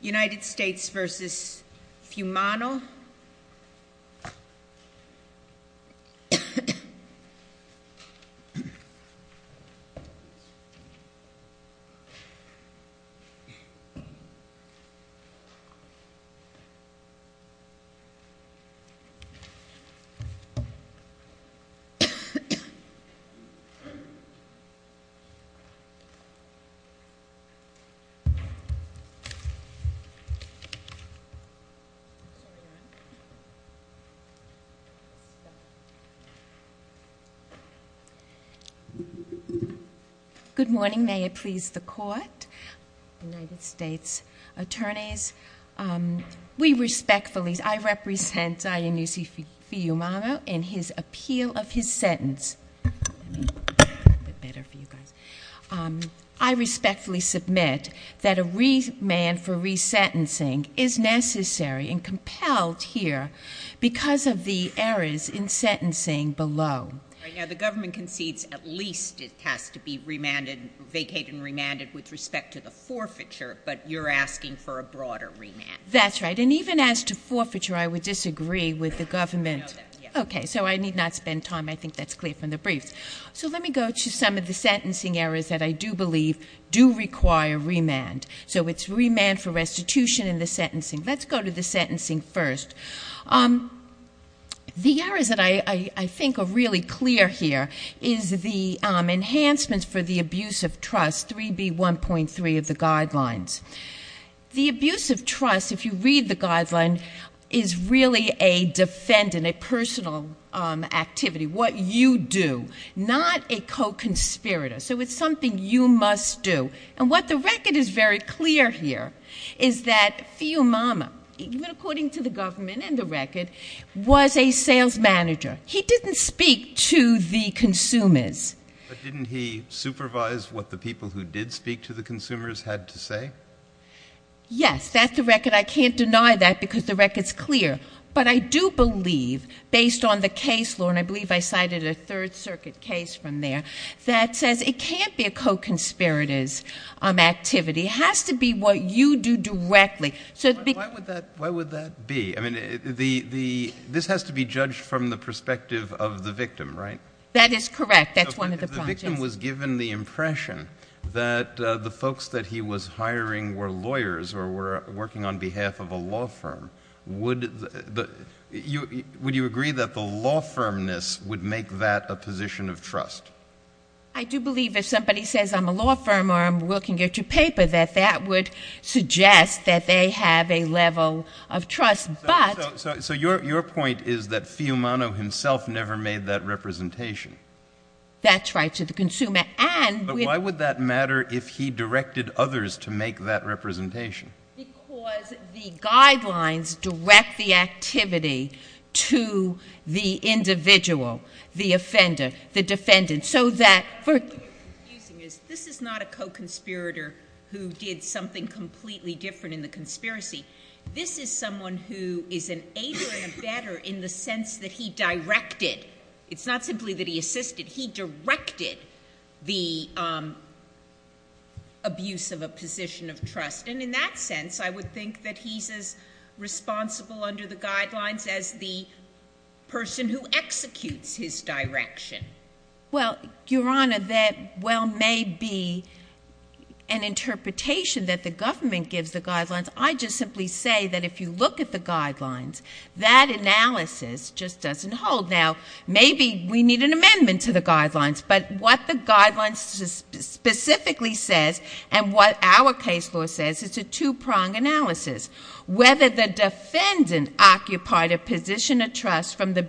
United States v. Fumano. Good morning, may it please the court, United States attorneys, we respectfully, I represent Zion v. Fumano in his appeal of his sentence. I respectfully submit that a remand for resentencing is necessary and compelled here because of the errors in sentencing below. Right now the government concedes at least it has to be remanded, vacated and remanded with respect to the forfeiture, but you're asking for a broader remand. That's right. And even as to forfeiture, I would disagree with the government. So I need not spend time, I think that's clear from the briefs. So let me go to some of the sentencing errors that I do believe do require remand. So it's remand for restitution in the sentencing. Let's go to the sentencing first. The errors that I think are really clear here is the enhancements for the abuse of trust, 3B1.3 of the guidelines. The abuse of trust, if you read the guideline, is really a defendant, a personal activity, what you do, not a co-conspirator. So it's something you must do. And what the record is very clear here is that Fiumama, even according to the government and the record, was a sales manager. He didn't speak to the consumers. But didn't he supervise what the people who did speak to the consumers had to say? Yes. That's the record. I can't deny that because the record's clear. But I do believe, based on the case law, and I believe I cited a Third Circuit case from there, that says it can't be a co-conspirator's activity, it has to be what you do directly. Why would that be? This has to be judged from the perspective of the victim, right? That is correct. That's one of the projects. If the victim was given the impression that the folks that he was hiring were lawyers or were working on behalf of a law firm, would you agree that the law firmness would make that a position of trust? I do believe if somebody says, I'm a law firm, or I'm looking at your paper, that that would suggest that they have a level of trust, but— So your point is that Fiumano himself never made that representation? That's right. To the consumer. And— But why would that matter if he directed others to make that representation? Because the guidelines direct the activity to the individual, the offender, the defendant, so that— What's confusing is this is not a co-conspirator who did something completely different in the conspiracy. This is someone who is an aider and a better in the sense that he directed. It's not simply that he assisted. He directed the abuse of a position of trust. And in that sense, I would think that he's as responsible under the guidelines as the person who executes his direction. Well, Your Honor, that well may be an interpretation that the government gives the guidelines. I just simply say that if you look at the guidelines, that analysis just doesn't hold. Now, maybe we need an amendment to the guidelines, but what the guidelines specifically says and what our case law says, it's a two-prong analysis, whether the defendant occupied a position of trust from the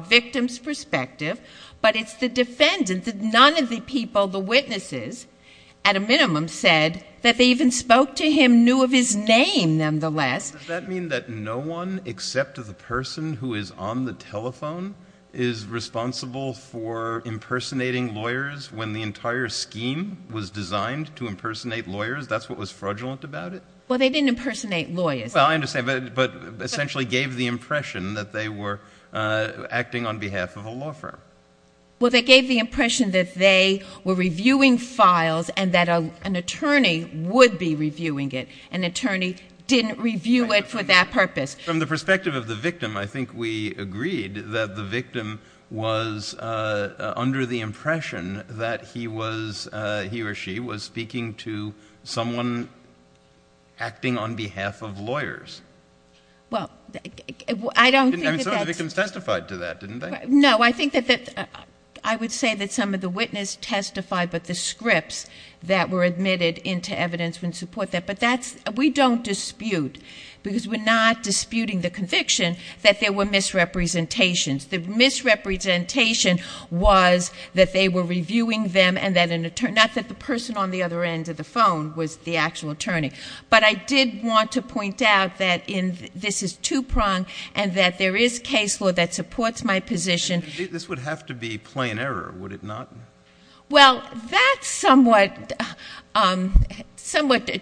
victim's perspective, but it's the defendant that none of the people, the witnesses, at a minimum, said that they even spoke to him, knew of his name, nonetheless. Does that mean that no one except the person who is on the telephone is responsible for impersonating lawyers when the entire scheme was designed to impersonate lawyers? That's what was fraudulent about it? Well, they didn't impersonate lawyers. Well, I understand, but essentially gave the impression that they were acting on behalf of a law firm. Well, they gave the impression that they were reviewing files and that an attorney would be reviewing it. An attorney didn't review it for that purpose. From the perspective of the victim, I think we agreed that the victim was under the impression that he was, he or she, was speaking to someone acting on behalf of lawyers. Well, I don't think that that's... I mean, some of the victims testified to that, didn't they? No, I think that I would say that some of the witnesses testified, but the scripts that were admitted into evidence wouldn't support that. But that's... We don't dispute, because we're not disputing the conviction, that there were misrepresentations. The misrepresentation was that they were reviewing them and that an attorney... Not that the person on the other end of the phone was the actual attorney. But I did want to point out that this is two-pronged and that there is case law that supports my position. This would have to be plain error, would it not? Well, that's somewhat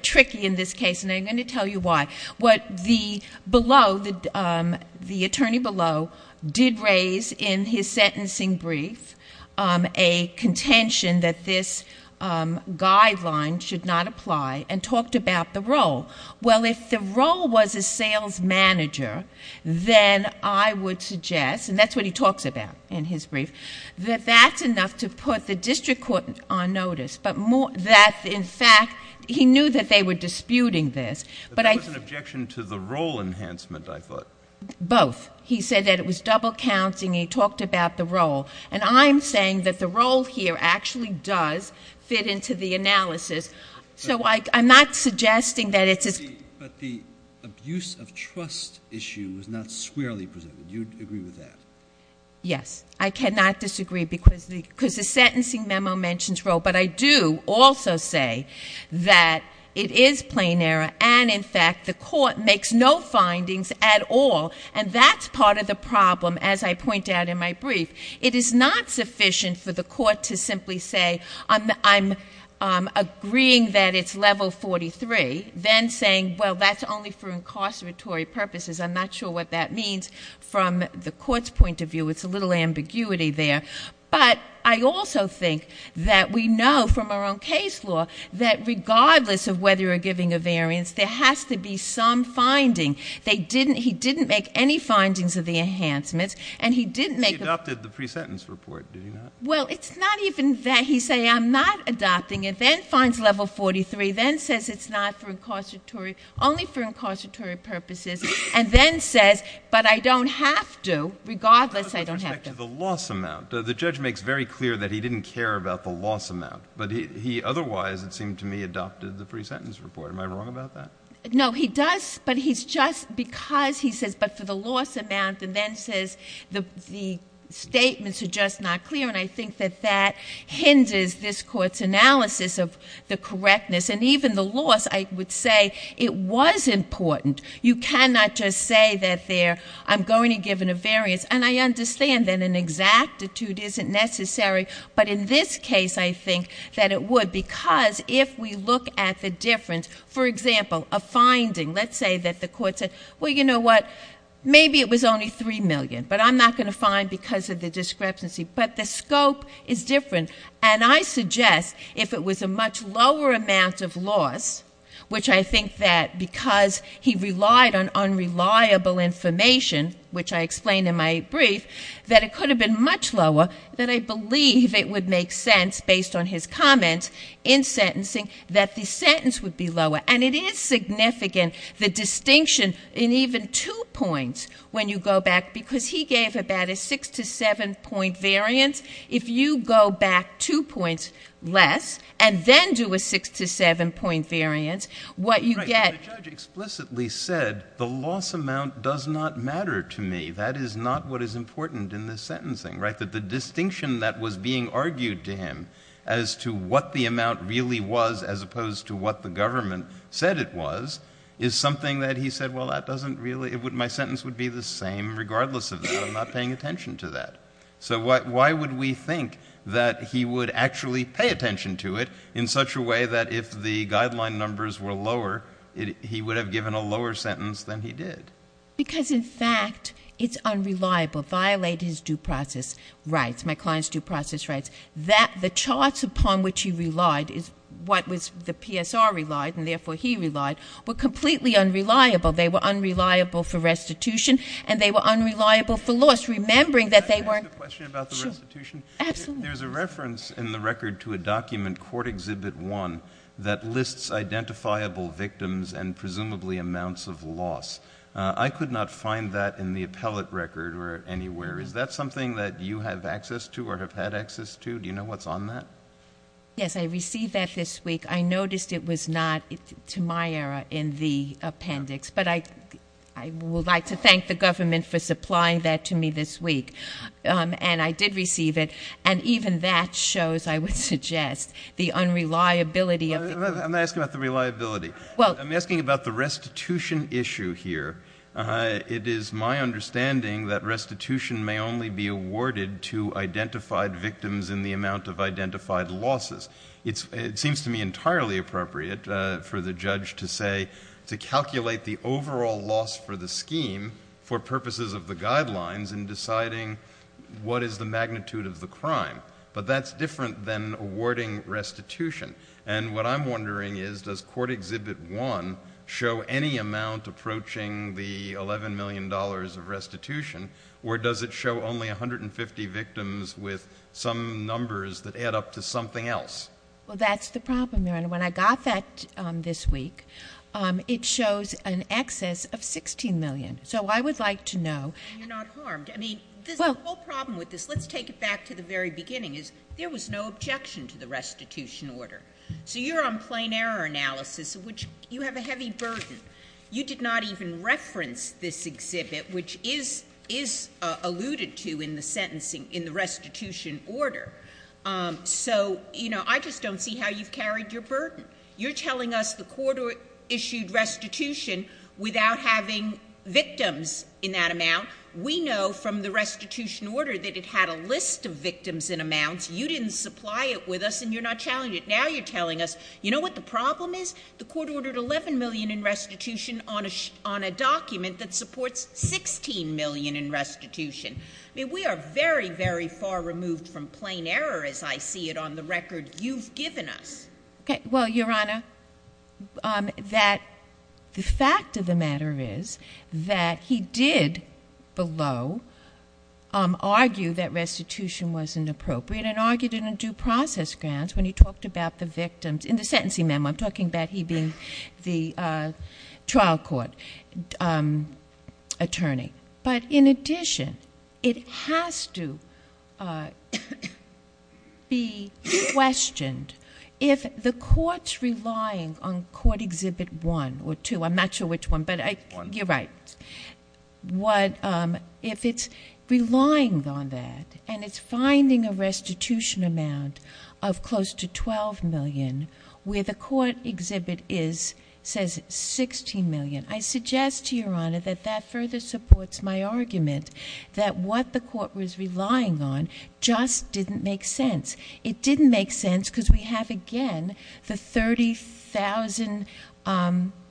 tricky in this case, and I'm going to tell you why. What the below, the attorney below, did raise in his sentencing brief a contention that this guideline should not apply and talked about the role. Well, if the role was a sales manager, then I would suggest, and that's what he talks about in his brief, that that's enough to put the district court on notice. But more... That, in fact, he knew that they were disputing this, but I... But that was an objection to the role enhancement, I thought. Both. He said that it was double counting. He talked about the role. And I'm saying that the role here actually does fit into the analysis. So I'm not suggesting that it's... But the abuse of trust issue was not squarely presented. Do you agree with that? Yes. I cannot disagree because the sentencing memo mentions role. But I do also say that it is plain error, and in fact, the court makes no findings at all. It is not sufficient for the court to simply say, I'm agreeing that it's level 43, then saying, well, that's only for incarceratory purposes. I'm not sure what that means from the court's point of view. It's a little ambiguity there. But I also think that we know from our own case law that regardless of whether you're giving a variance, there has to be some finding. He didn't make any findings of the enhancements. And he didn't make... He didn't make any findings of the pre-sentence report, did he not? Well, it's not even that he say, I'm not adopting it, then finds level 43, then says it's not for incarceratory... Only for incarceratory purposes, and then says, but I don't have to, regardless, I don't have to. With respect to the loss amount, the judge makes very clear that he didn't care about the loss amount. But he otherwise, it seemed to me, adopted the pre-sentence report. Am I wrong about that? No, he does. But he's just... Because he says, but for the loss amount, and then says the statements are just not clear. And I think that that hinders this court's analysis of the correctness. And even the loss, I would say, it was important. You cannot just say that there, I'm going to give a variance. And I understand that an exactitude isn't necessary. But in this case, I think that it would. But because if we look at the difference, for example, a finding, let's say that the court said, well, you know what? Maybe it was only 3 million, but I'm not going to find because of the discrepancy. But the scope is different. And I suggest if it was a much lower amount of loss, which I think that because he relied on unreliable information, which I explained in my brief, that it could have been much lower, that I believe it would make sense, based on his comments in sentencing, that the sentence would be lower. And it is significant, the distinction in even two points when you go back. Because he gave about a 6 to 7 point variance. If you go back two points less, and then do a 6 to 7 point variance, what you get... Right. But the judge explicitly said, the loss amount does not matter to me. That is not what is important in this sentencing, right? That the distinction that was being argued to him as to what the amount really was as opposed to what the government said it was, is something that he said, well, that doesn't really... My sentence would be the same regardless of that. I'm not paying attention to that. So why would we think that he would actually pay attention to it in such a way that if the guideline numbers were lower, he would have given a lower sentence than he did? Because in fact, it's unreliable, violate his due process rights, my client's due process rights. The charts upon which he relied is what the PSR relied, and therefore he relied, were completely unreliable. They were unreliable for restitution, and they were unreliable for loss, remembering that they weren't... Can I ask a question about the restitution? Sure. Absolutely. There's a reference in the record to a document, Court Exhibit 1, that lists identifiable victims and presumably amounts of loss. I could not find that in the appellate record or anywhere. Is that something that you have access to or have had access to? Do you know what's on that? Yes, I received that this week. I noticed it was not, to my error, in the appendix, but I would like to thank the government for supplying that to me this week, and I did receive it. And even that shows, I would suggest, the unreliability of... I'm not asking about the reliability. I'm asking about the restitution issue here. It is my understanding that restitution may only be awarded to identified victims in the amount of identified losses. It seems to me entirely appropriate for the judge to say, to calculate the overall loss for the scheme for purposes of the guidelines in deciding what is the magnitude of the crime, but that's different than awarding restitution. And what I'm wondering is, does Court Exhibit 1 show any amount approaching the $11 million of restitution, or does it show only 150 victims with some numbers that add up to something else? Well, that's the problem there. And when I got that this week, it shows an excess of $16 million, so I would like to know... And you're not harmed. I mean, the whole problem with this, let's take it back to the very beginning, is there was no objection to the restitution order. So you're on plain error analysis, which you have a heavy burden. You did not even reference this exhibit, which is alluded to in the sentencing, in the restitution order. So, you know, I just don't see how you've carried your burden. You're telling us the court issued restitution without having victims in that amount. We know from the restitution order that it had a list of victims in amounts. You didn't supply it with us, and you're not challenging it. Now you're telling us, you know what the problem is? The court ordered $11 million in restitution on a document that supports $16 million in restitution. I mean, we are very, very far removed from plain error as I see it on the record you've given us. Okay. Well, Your Honor, the fact of the matter is that he did below argue that restitution wasn't appropriate and argued it in due process grants when he talked about the victims in the sentencing memo. I'm talking about he being the trial court attorney. But in addition, it has to be questioned if the court's relying on court exhibit one or two. I'm not sure which one, but you're right. If it's relying on that and it's finding a restitution amount of close to $12 million where the court exhibit says $16 million, I suggest to Your Honor that that further supports my argument that what the court was relying on just didn't make sense. It didn't make sense because we have, again, the 30,000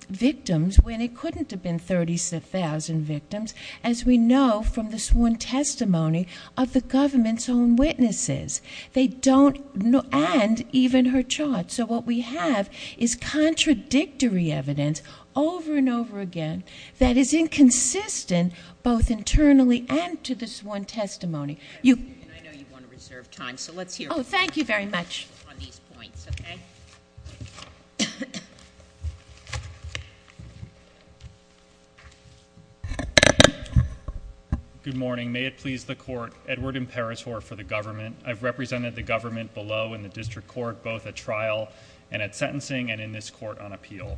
victims when it couldn't have been 30,000 victims as we know from the sworn testimony of the government's own witnesses. They don't, and even her charge. So what we have is contradictory evidence over and over again that is inconsistent both internally and to the sworn testimony. You- I know you want to reserve time, so let's hear- Oh, thank you very much. I'm going to be brief on these points, okay? Good morning. May it please the court, Edward Imperatore for the government. I've represented the government below in the district court both at trial and at sentencing and in this court on appeal.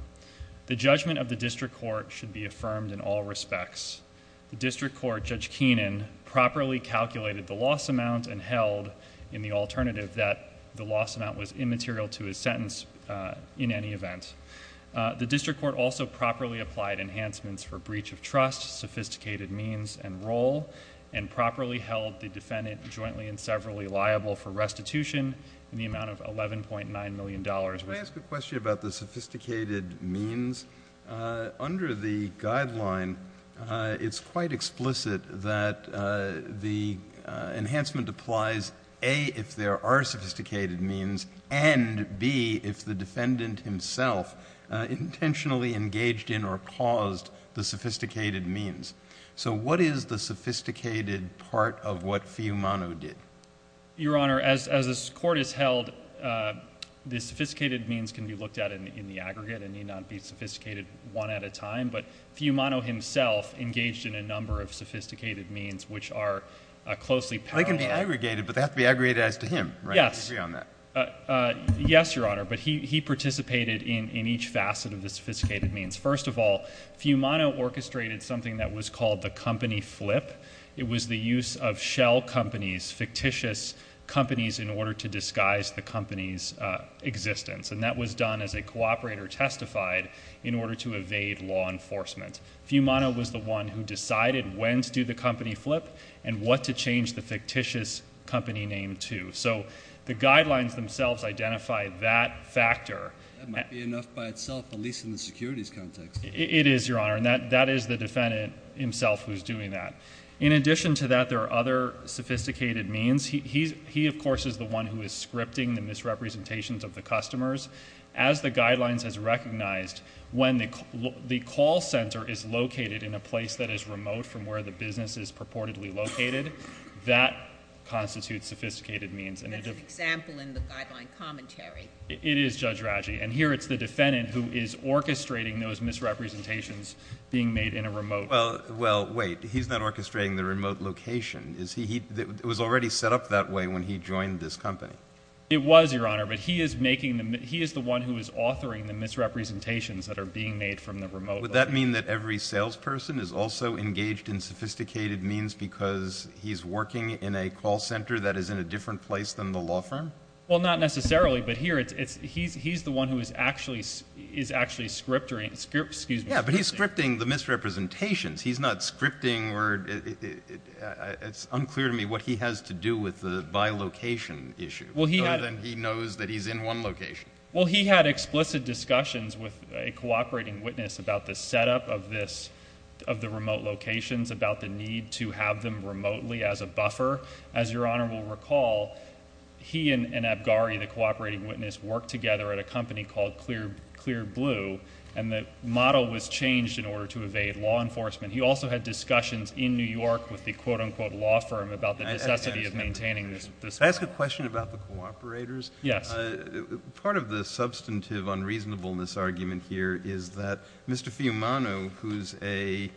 The judgment of the district court should be affirmed in all respects. The district court, Judge Keenan, properly calculated the loss amount and held in the loss amount was immaterial to his sentence in any event. The district court also properly applied enhancements for breach of trust, sophisticated means and role, and properly held the defendant jointly and severally liable for restitution in the amount of $11.9 million. May I ask a question about the sophisticated means? Under the guideline, it's quite explicit that the enhancement applies, A, if there are sophisticated means and, B, if the defendant himself intentionally engaged in or caused the sophisticated means. So what is the sophisticated part of what Fiumano did? Your Honor, as this court has held, the sophisticated means can be looked at in the aggregate and need not be sophisticated one at a time, but Fiumano himself engaged in a number of sophisticated means which are closely parallel. They can be aggregated, but they have to be aggregated as to him, right? Yes, Your Honor, but he participated in each facet of the sophisticated means. First of all, Fiumano orchestrated something that was called the company flip. It was the use of shell companies, fictitious companies, in order to disguise the company's existence, and that was done as a cooperator testified in order to evade law enforcement. Fiumano was the one who decided when to do the company flip and what to change the fictitious company name to. So the guidelines themselves identify that factor. That might be enough by itself, at least in the securities context. It is, Your Honor, and that is the defendant himself who is doing that. In addition to that, there are other sophisticated means. He, of course, is the one who is scripting the misrepresentations of the customers. As the guidelines has recognized, when the call center is located in a place that is That's an example in the guideline commentary. It is, Judge Raggi, and here it's the defendant who is orchestrating those misrepresentations being made in a remote... Well, wait. He's not orchestrating the remote location. It was already set up that way when he joined this company. It was, Your Honor, but he is the one who is authoring the misrepresentations that are being made from the remote... Would that mean that every salesperson is also engaged in sophisticated means because he's working in a call center that is in a different place than the law firm? Well, not necessarily, but here it's... he's the one who is actually scripting... Yeah, but he's scripting the misrepresentations. He's not scripting or... it's unclear to me what he has to do with the by location issue. Well, he had... Other than he knows that he's in one location. Well, he had explicit discussions with a cooperating witness about the setup of the remote locations, about the need to have them remotely as a buffer. As Your Honor will recall, he and Abgari, the cooperating witness, worked together at a company called Clear Blue, and the model was changed in order to evade law enforcement. He also had discussions in New York with the quote-unquote law firm about the necessity of maintaining this model. Can I ask a question about the cooperators? Yes. Part of the substantive unreasonableness argument here is that Mr. Fiumano, who's a...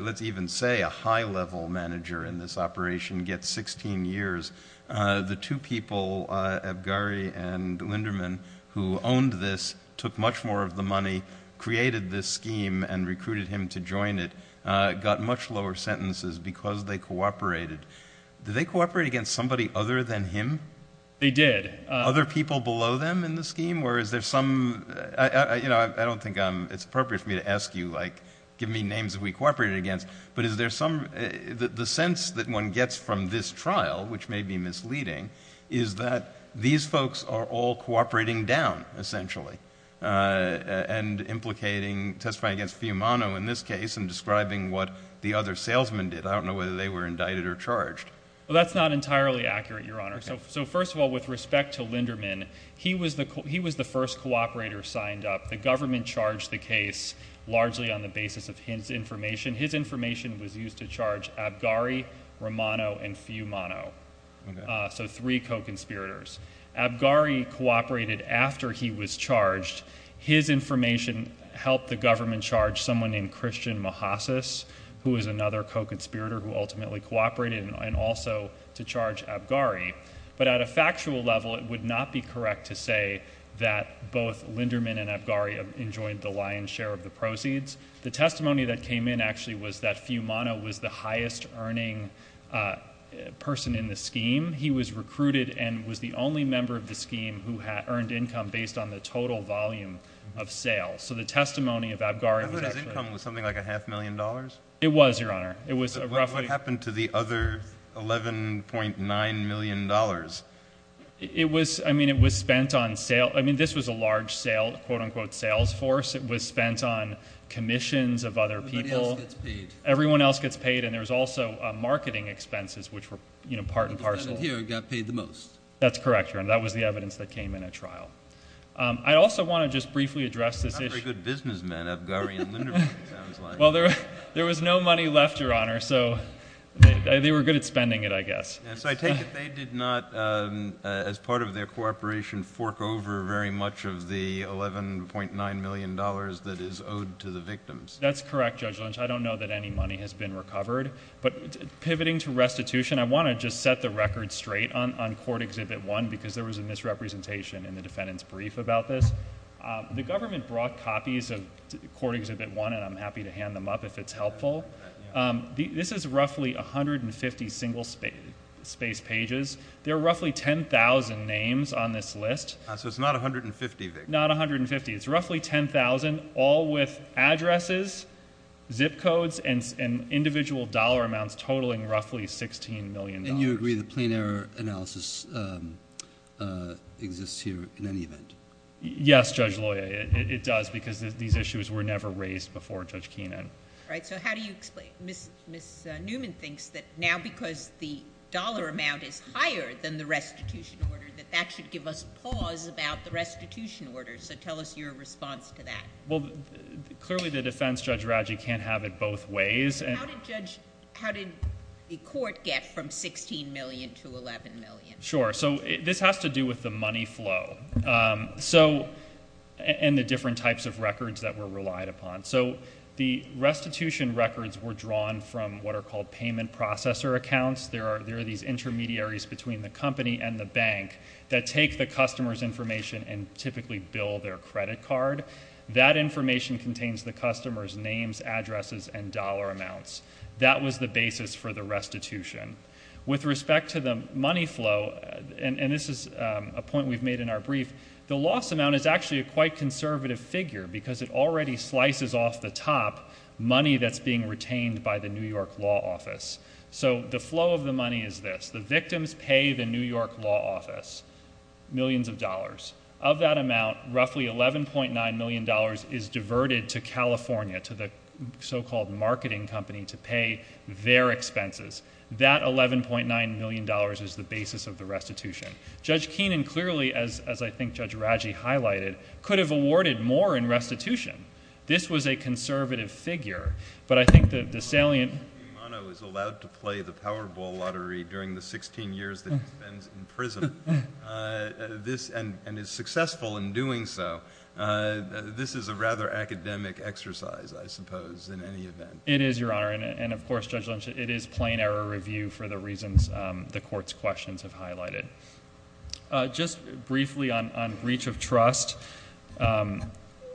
let's even say a high-level manager in this operation, gets 16 years. The two people, Abgari and Linderman, who owned this, took much more of the money, created this scheme, and recruited him to join it, got much lower sentences because they cooperated. Did they cooperate against somebody other than him? They did. Other people below them in the scheme, or is there some... you know, I don't think it's appropriate for me to ask you, like, give me names that we cooperated against, but is there some... the sense that one gets from this trial, which may be misleading, is that these folks are all cooperating down, essentially, and implicating... testifying against Fiumano in this case, and describing what the other salesmen did. I don't know whether they were indicted or charged. Well, that's not entirely accurate, Your Honor. So first of all, with respect to Linderman, he was the first cooperator signed up. The government charged the case largely on the basis of his information. His information was used to charge Abgari, Romano, and Fiumano, so three co-conspirators. Abgari cooperated after he was charged. His information helped the government charge someone named Christian Mahasis, who was another co-conspirator who ultimately cooperated, and also to charge Abgari. But at a factual level, it would not be correct to say that both Linderman and Abgari enjoyed the lion's share of the proceeds. The testimony that came in, actually, was that Fiumano was the highest earning person in the scheme. He was recruited and was the only member of the scheme who had earned income based on the total volume of sales. So the testimony of Abgari was actually... I heard his income was something like a half million dollars. It was, Your Honor. It was roughly... Half a million dollars. It was, I mean, it was spent on... I mean, this was a large quote-unquote sales force. It was spent on commissions of other people. Everybody else gets paid. Everyone else gets paid, and there was also marketing expenses, which were part and parcel. The defendant here got paid the most. That's correct, Your Honor. That was the evidence that came in at trial. I also want to just briefly address this issue... Not very good businessmen, Abgari and Linderman, it sounds like. Yes. I take it they did not, as part of their cooperation, fork over very much of the $11.9 million that is owed to the victims. That's correct, Judge Lynch. I don't know that any money has been recovered. But pivoting to restitution, I want to just set the record straight on Court Exhibit 1 because there was a misrepresentation in the defendant's brief about this. The government brought copies of Court Exhibit 1, and I'm happy to hand them up if it's helpful. This is roughly 150 single-space pages. There are roughly 10,000 names on this list. So it's not 150 victims? Not 150. It's roughly 10,000, all with addresses, zip codes, and individual dollar amounts totaling roughly $16 million. And you agree the plain error analysis exists here in any event? Yes, Judge Loya, it does, because these issues were never raised before Judge Keenan. All right. So how do you explain... Ms. Newman thinks that now because the dollar amount is higher than the restitution order, that that should give us pause about the restitution order. So tell us your response to that. Well, clearly the defense, Judge Radji, can't have it both ways. How did the court get from $16 million to $11 million? Sure. So this has to do with the money flow and the different types of records that were relied upon. So the restitution records were drawn from what are called payment processor accounts. There are these intermediaries between the company and the bank that take the customer's information and typically bill their credit card. That information contains the customer's names, addresses, and dollar amounts. That was the basis for the restitution. With respect to the money flow, and this is a point we've made in our brief, the loss amount is actually a quite conservative figure because it already slices off the top money that's being retained by the New York Law Office. So the flow of the money is this. The victims pay the New York Law Office millions of dollars. Of that amount, roughly $11.9 million is diverted to California, to the so-called marketing company, to pay their expenses. That $11.9 million is the basis of the restitution. Judge Keenan clearly, as I think Judge Raggi highlighted, could have awarded more in restitution. This was a conservative figure. But I think that the salient... Judge Keenan is allowed to play the Powerball Lottery during the 16 years that he spends in prison, and is successful in doing so. This is a rather academic exercise, I suppose, in any event. It is, Your Honor. And of course, Judge Lynch, it is plain error review for the reasons the Court's questions have highlighted. Just briefly on breach of trust,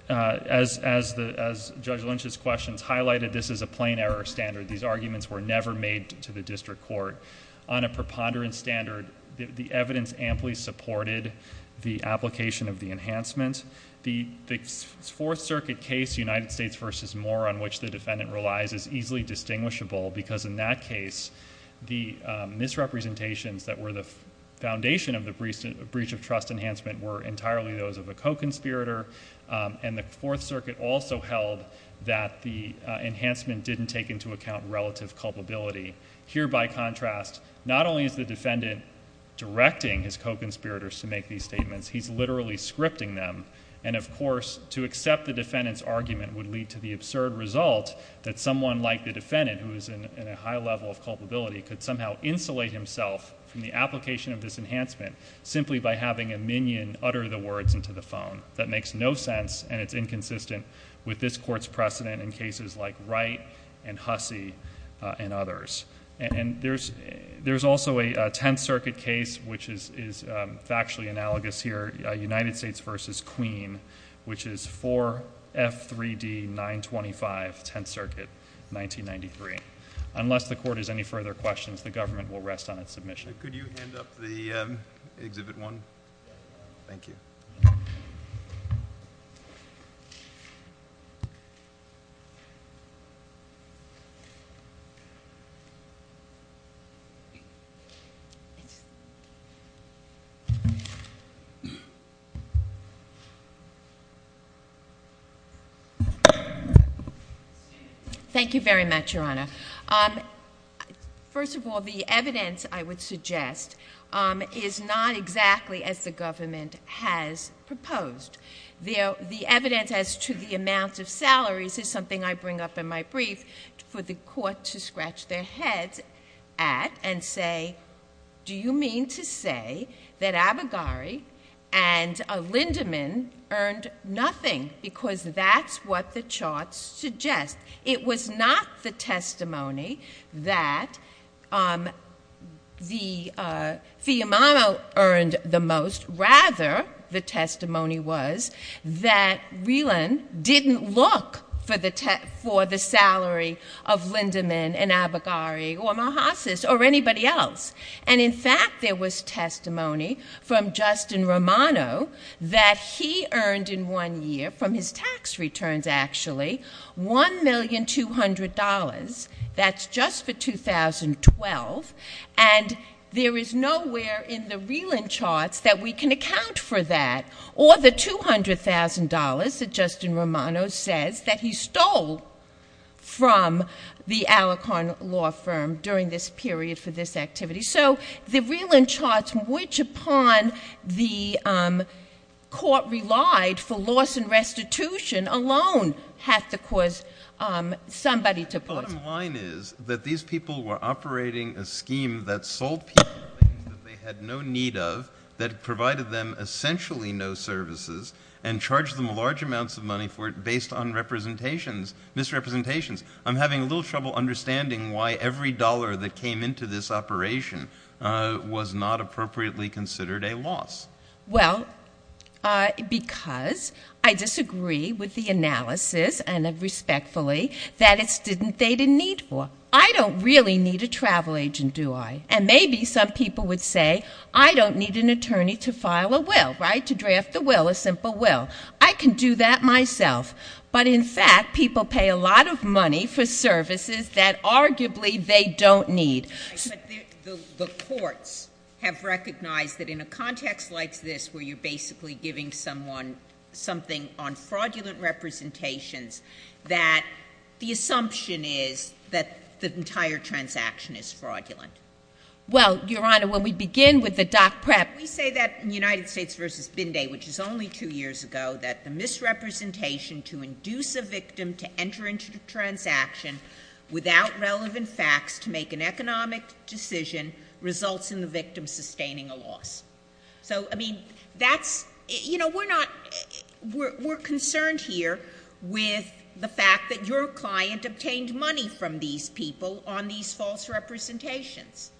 as Judge Lynch's questions highlighted, this is a plain error standard. These arguments were never made to the district court. On a preponderance standard, the evidence amply supported the application of the enhancement. The Fourth Circuit case, United States v. Moore, on which the defendant relies, is easily distinguishable, because in that case, the misrepresentations that were the foundation of the breach of trust enhancement were entirely those of a co-conspirator, and the Fourth Circuit also held that the enhancement didn't take into account relative culpability. Here by contrast, not only is the defendant directing his co-conspirators to make these statements, he's literally scripting them. And of course, to accept the defendant's argument would lead to the absurd result that someone like the defendant, who is in a high level of culpability, could somehow insulate himself from the application of this enhancement, simply by having a minion utter the words into the phone. That makes no sense, and it's inconsistent with this Court's precedent in cases like Wright and Hussey and others. And there's also a Tenth Circuit case, which is factually analogous here, United States v. Queen, which is 4F3D, 925, Tenth Circuit, 1993. Unless the Court has any further questions, the government will rest on its submission. Could you hand up the Exhibit 1? Thank you. Thank you very much, Your Honor. First of all, the evidence, I would suggest, is not exactly as the government has proposed. The evidence as to the amount of salaries is something I bring up in my brief for the Court to scratch their heads at and say, do you mean to say that Abaghari and Lindemann earned nothing? Because that's what the charts suggest. It was not the testimony that Fiammano earned the most. Rather, the testimony was that Rieland didn't look for the salary of Lindemann and Abaghari or Malhasis or anybody else. And in fact, there was testimony from Justin Romano that he earned in one year, from his $1,200,000. That's just for 2012, and there is nowhere in the Rieland charts that we can account for that or the $200,000 that Justin Romano says that he stole from the Alicorn law firm during this period for this activity. So the Rieland charts, which upon the Court relied for loss and restitution alone, have to cause somebody to put— The bottom line is that these people were operating a scheme that sold people things that they had no need of, that provided them essentially no services, and charged them large amounts of money for it based on representations, misrepresentations. I'm having a little trouble understanding why every dollar that came into this operation was not appropriately considered a loss. Well, because I disagree with the analysis, and respectfully, that it's didn't—they didn't need for. I don't really need a travel agent, do I? And maybe some people would say, I don't need an attorney to file a will, right, to draft the will, a simple will. I can do that myself. But in fact, people pay a lot of money for services that arguably they don't need. But the courts have recognized that in a context like this, where you're basically giving someone something on fraudulent representations, that the assumption is that the entire transaction is fraudulent. Well, Your Honor, when we begin with the doc prep— We say that in United States v. Binday, which is only two years ago, that the misrepresentation to induce a victim to enter into the transaction without relevant facts to make an economic decision results in the victim sustaining a loss. So, I mean, that's—you know, we're not—we're concerned here with the fact that your client obtained money from these people on these false representations.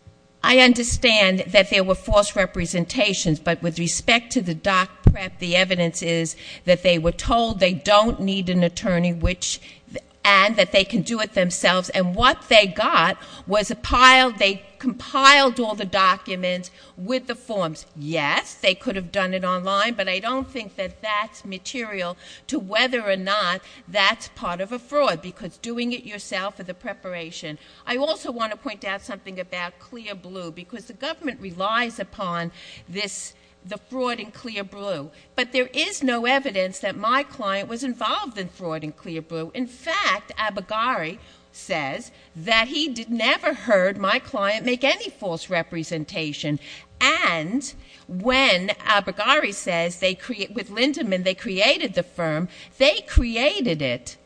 I understand that there were false representations, but with respect to the doc prep, the evidence is that they were told they don't need an attorney, which—and that they can do it themselves. And what they got was a pile—they compiled all the documents with the forms. Yes, they could have done it online, but I don't think that that's material to whether or not that's part of a fraud, because doing it yourself for the preparation. I also want to point out something about clear blue, because the government relies upon this—the fraud in clear blue. But there is no evidence that my client was involved in fraud in clear blue. In fact, Abagari says that he never heard my client make any false representation. And when Abagari says they—with Lindemann, they created the firm, they created it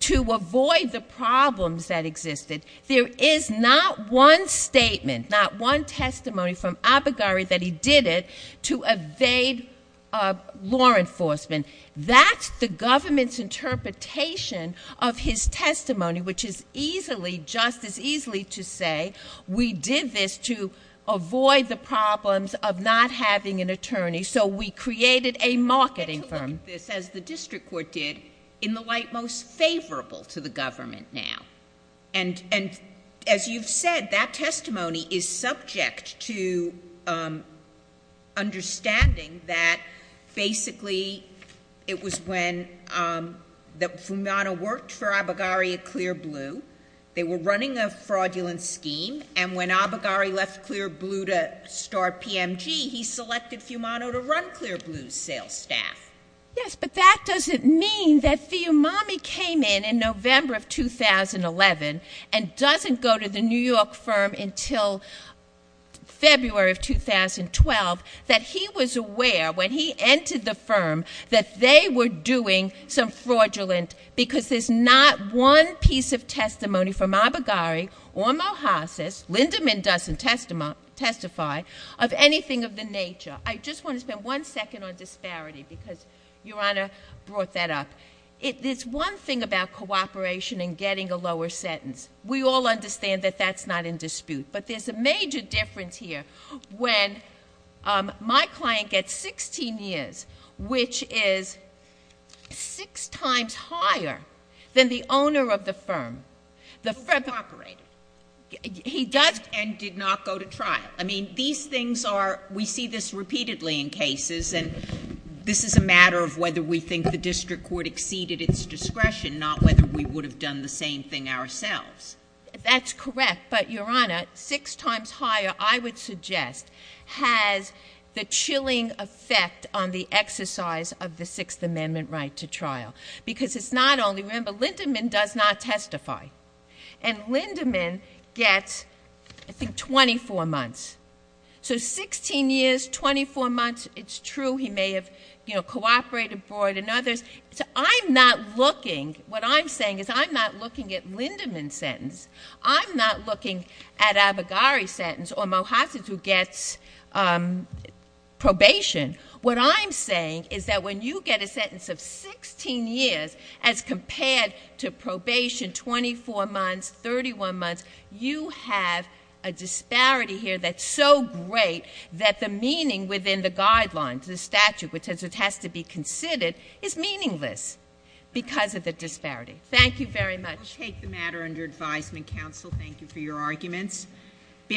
to avoid the problems that existed. There is not one statement, not one testimony from Abagari that he did it to evade law enforcement. That's the government's interpretation of his testimony, which is easily, just as easily to say, we did this to avoid the problems of not having an attorney, so we created a marketing firm. I get to look at this, as the district court did, in the light most favorable to the government now. And as you've said, that testimony is subject to understanding that basically it was when that Fiumano worked for Abagari at clear blue. They were running a fraudulent scheme, and when Abagari left clear blue to start PMG, he selected Fiumano to run clear blue's sales staff. Yes, but that doesn't mean that Fiumani came in in November of 2011 and doesn't go to the New York firm until February of 2012, that he was aware when he entered the firm that they were doing some fraudulent—because there's not one piece of testimony from Abagari or Mohassas—Lindemann doesn't testify—of anything of the nature. I just want to spend one second on disparity, because Your Honor brought that up. There's one thing about cooperation and getting a lower sentence. We all understand that that's not in dispute, but there's a major difference here when my client gets 16 years, which is six times higher than the owner of the firm. The firm— He cooperated. He does— And did not go to trial. I mean, these things are—we see this repeatedly in cases, and this is a matter of whether we think the district court exceeded its discretion, not whether we would have done the same thing ourselves. That's correct, but Your Honor, six times higher, I would suggest, has the chilling effect on the exercise of the Sixth Amendment right to trial, because it's not only—remember, Mohassas does not testify, and Lindemann gets, I think, 24 months. So 16 years, 24 months, it's true he may have, you know, cooperated for it and others. I'm not looking—what I'm saying is I'm not looking at Lindemann's sentence. I'm not looking at Abagari's sentence or Mohassas, who gets probation. What I'm saying is that when you get a sentence of 16 years as compared to probation, 24 months, 31 months, you have a disparity here that's so great that the meaning within the guidelines, the statute, which has to be considered, is meaningless because of the disparity. Thank you very much.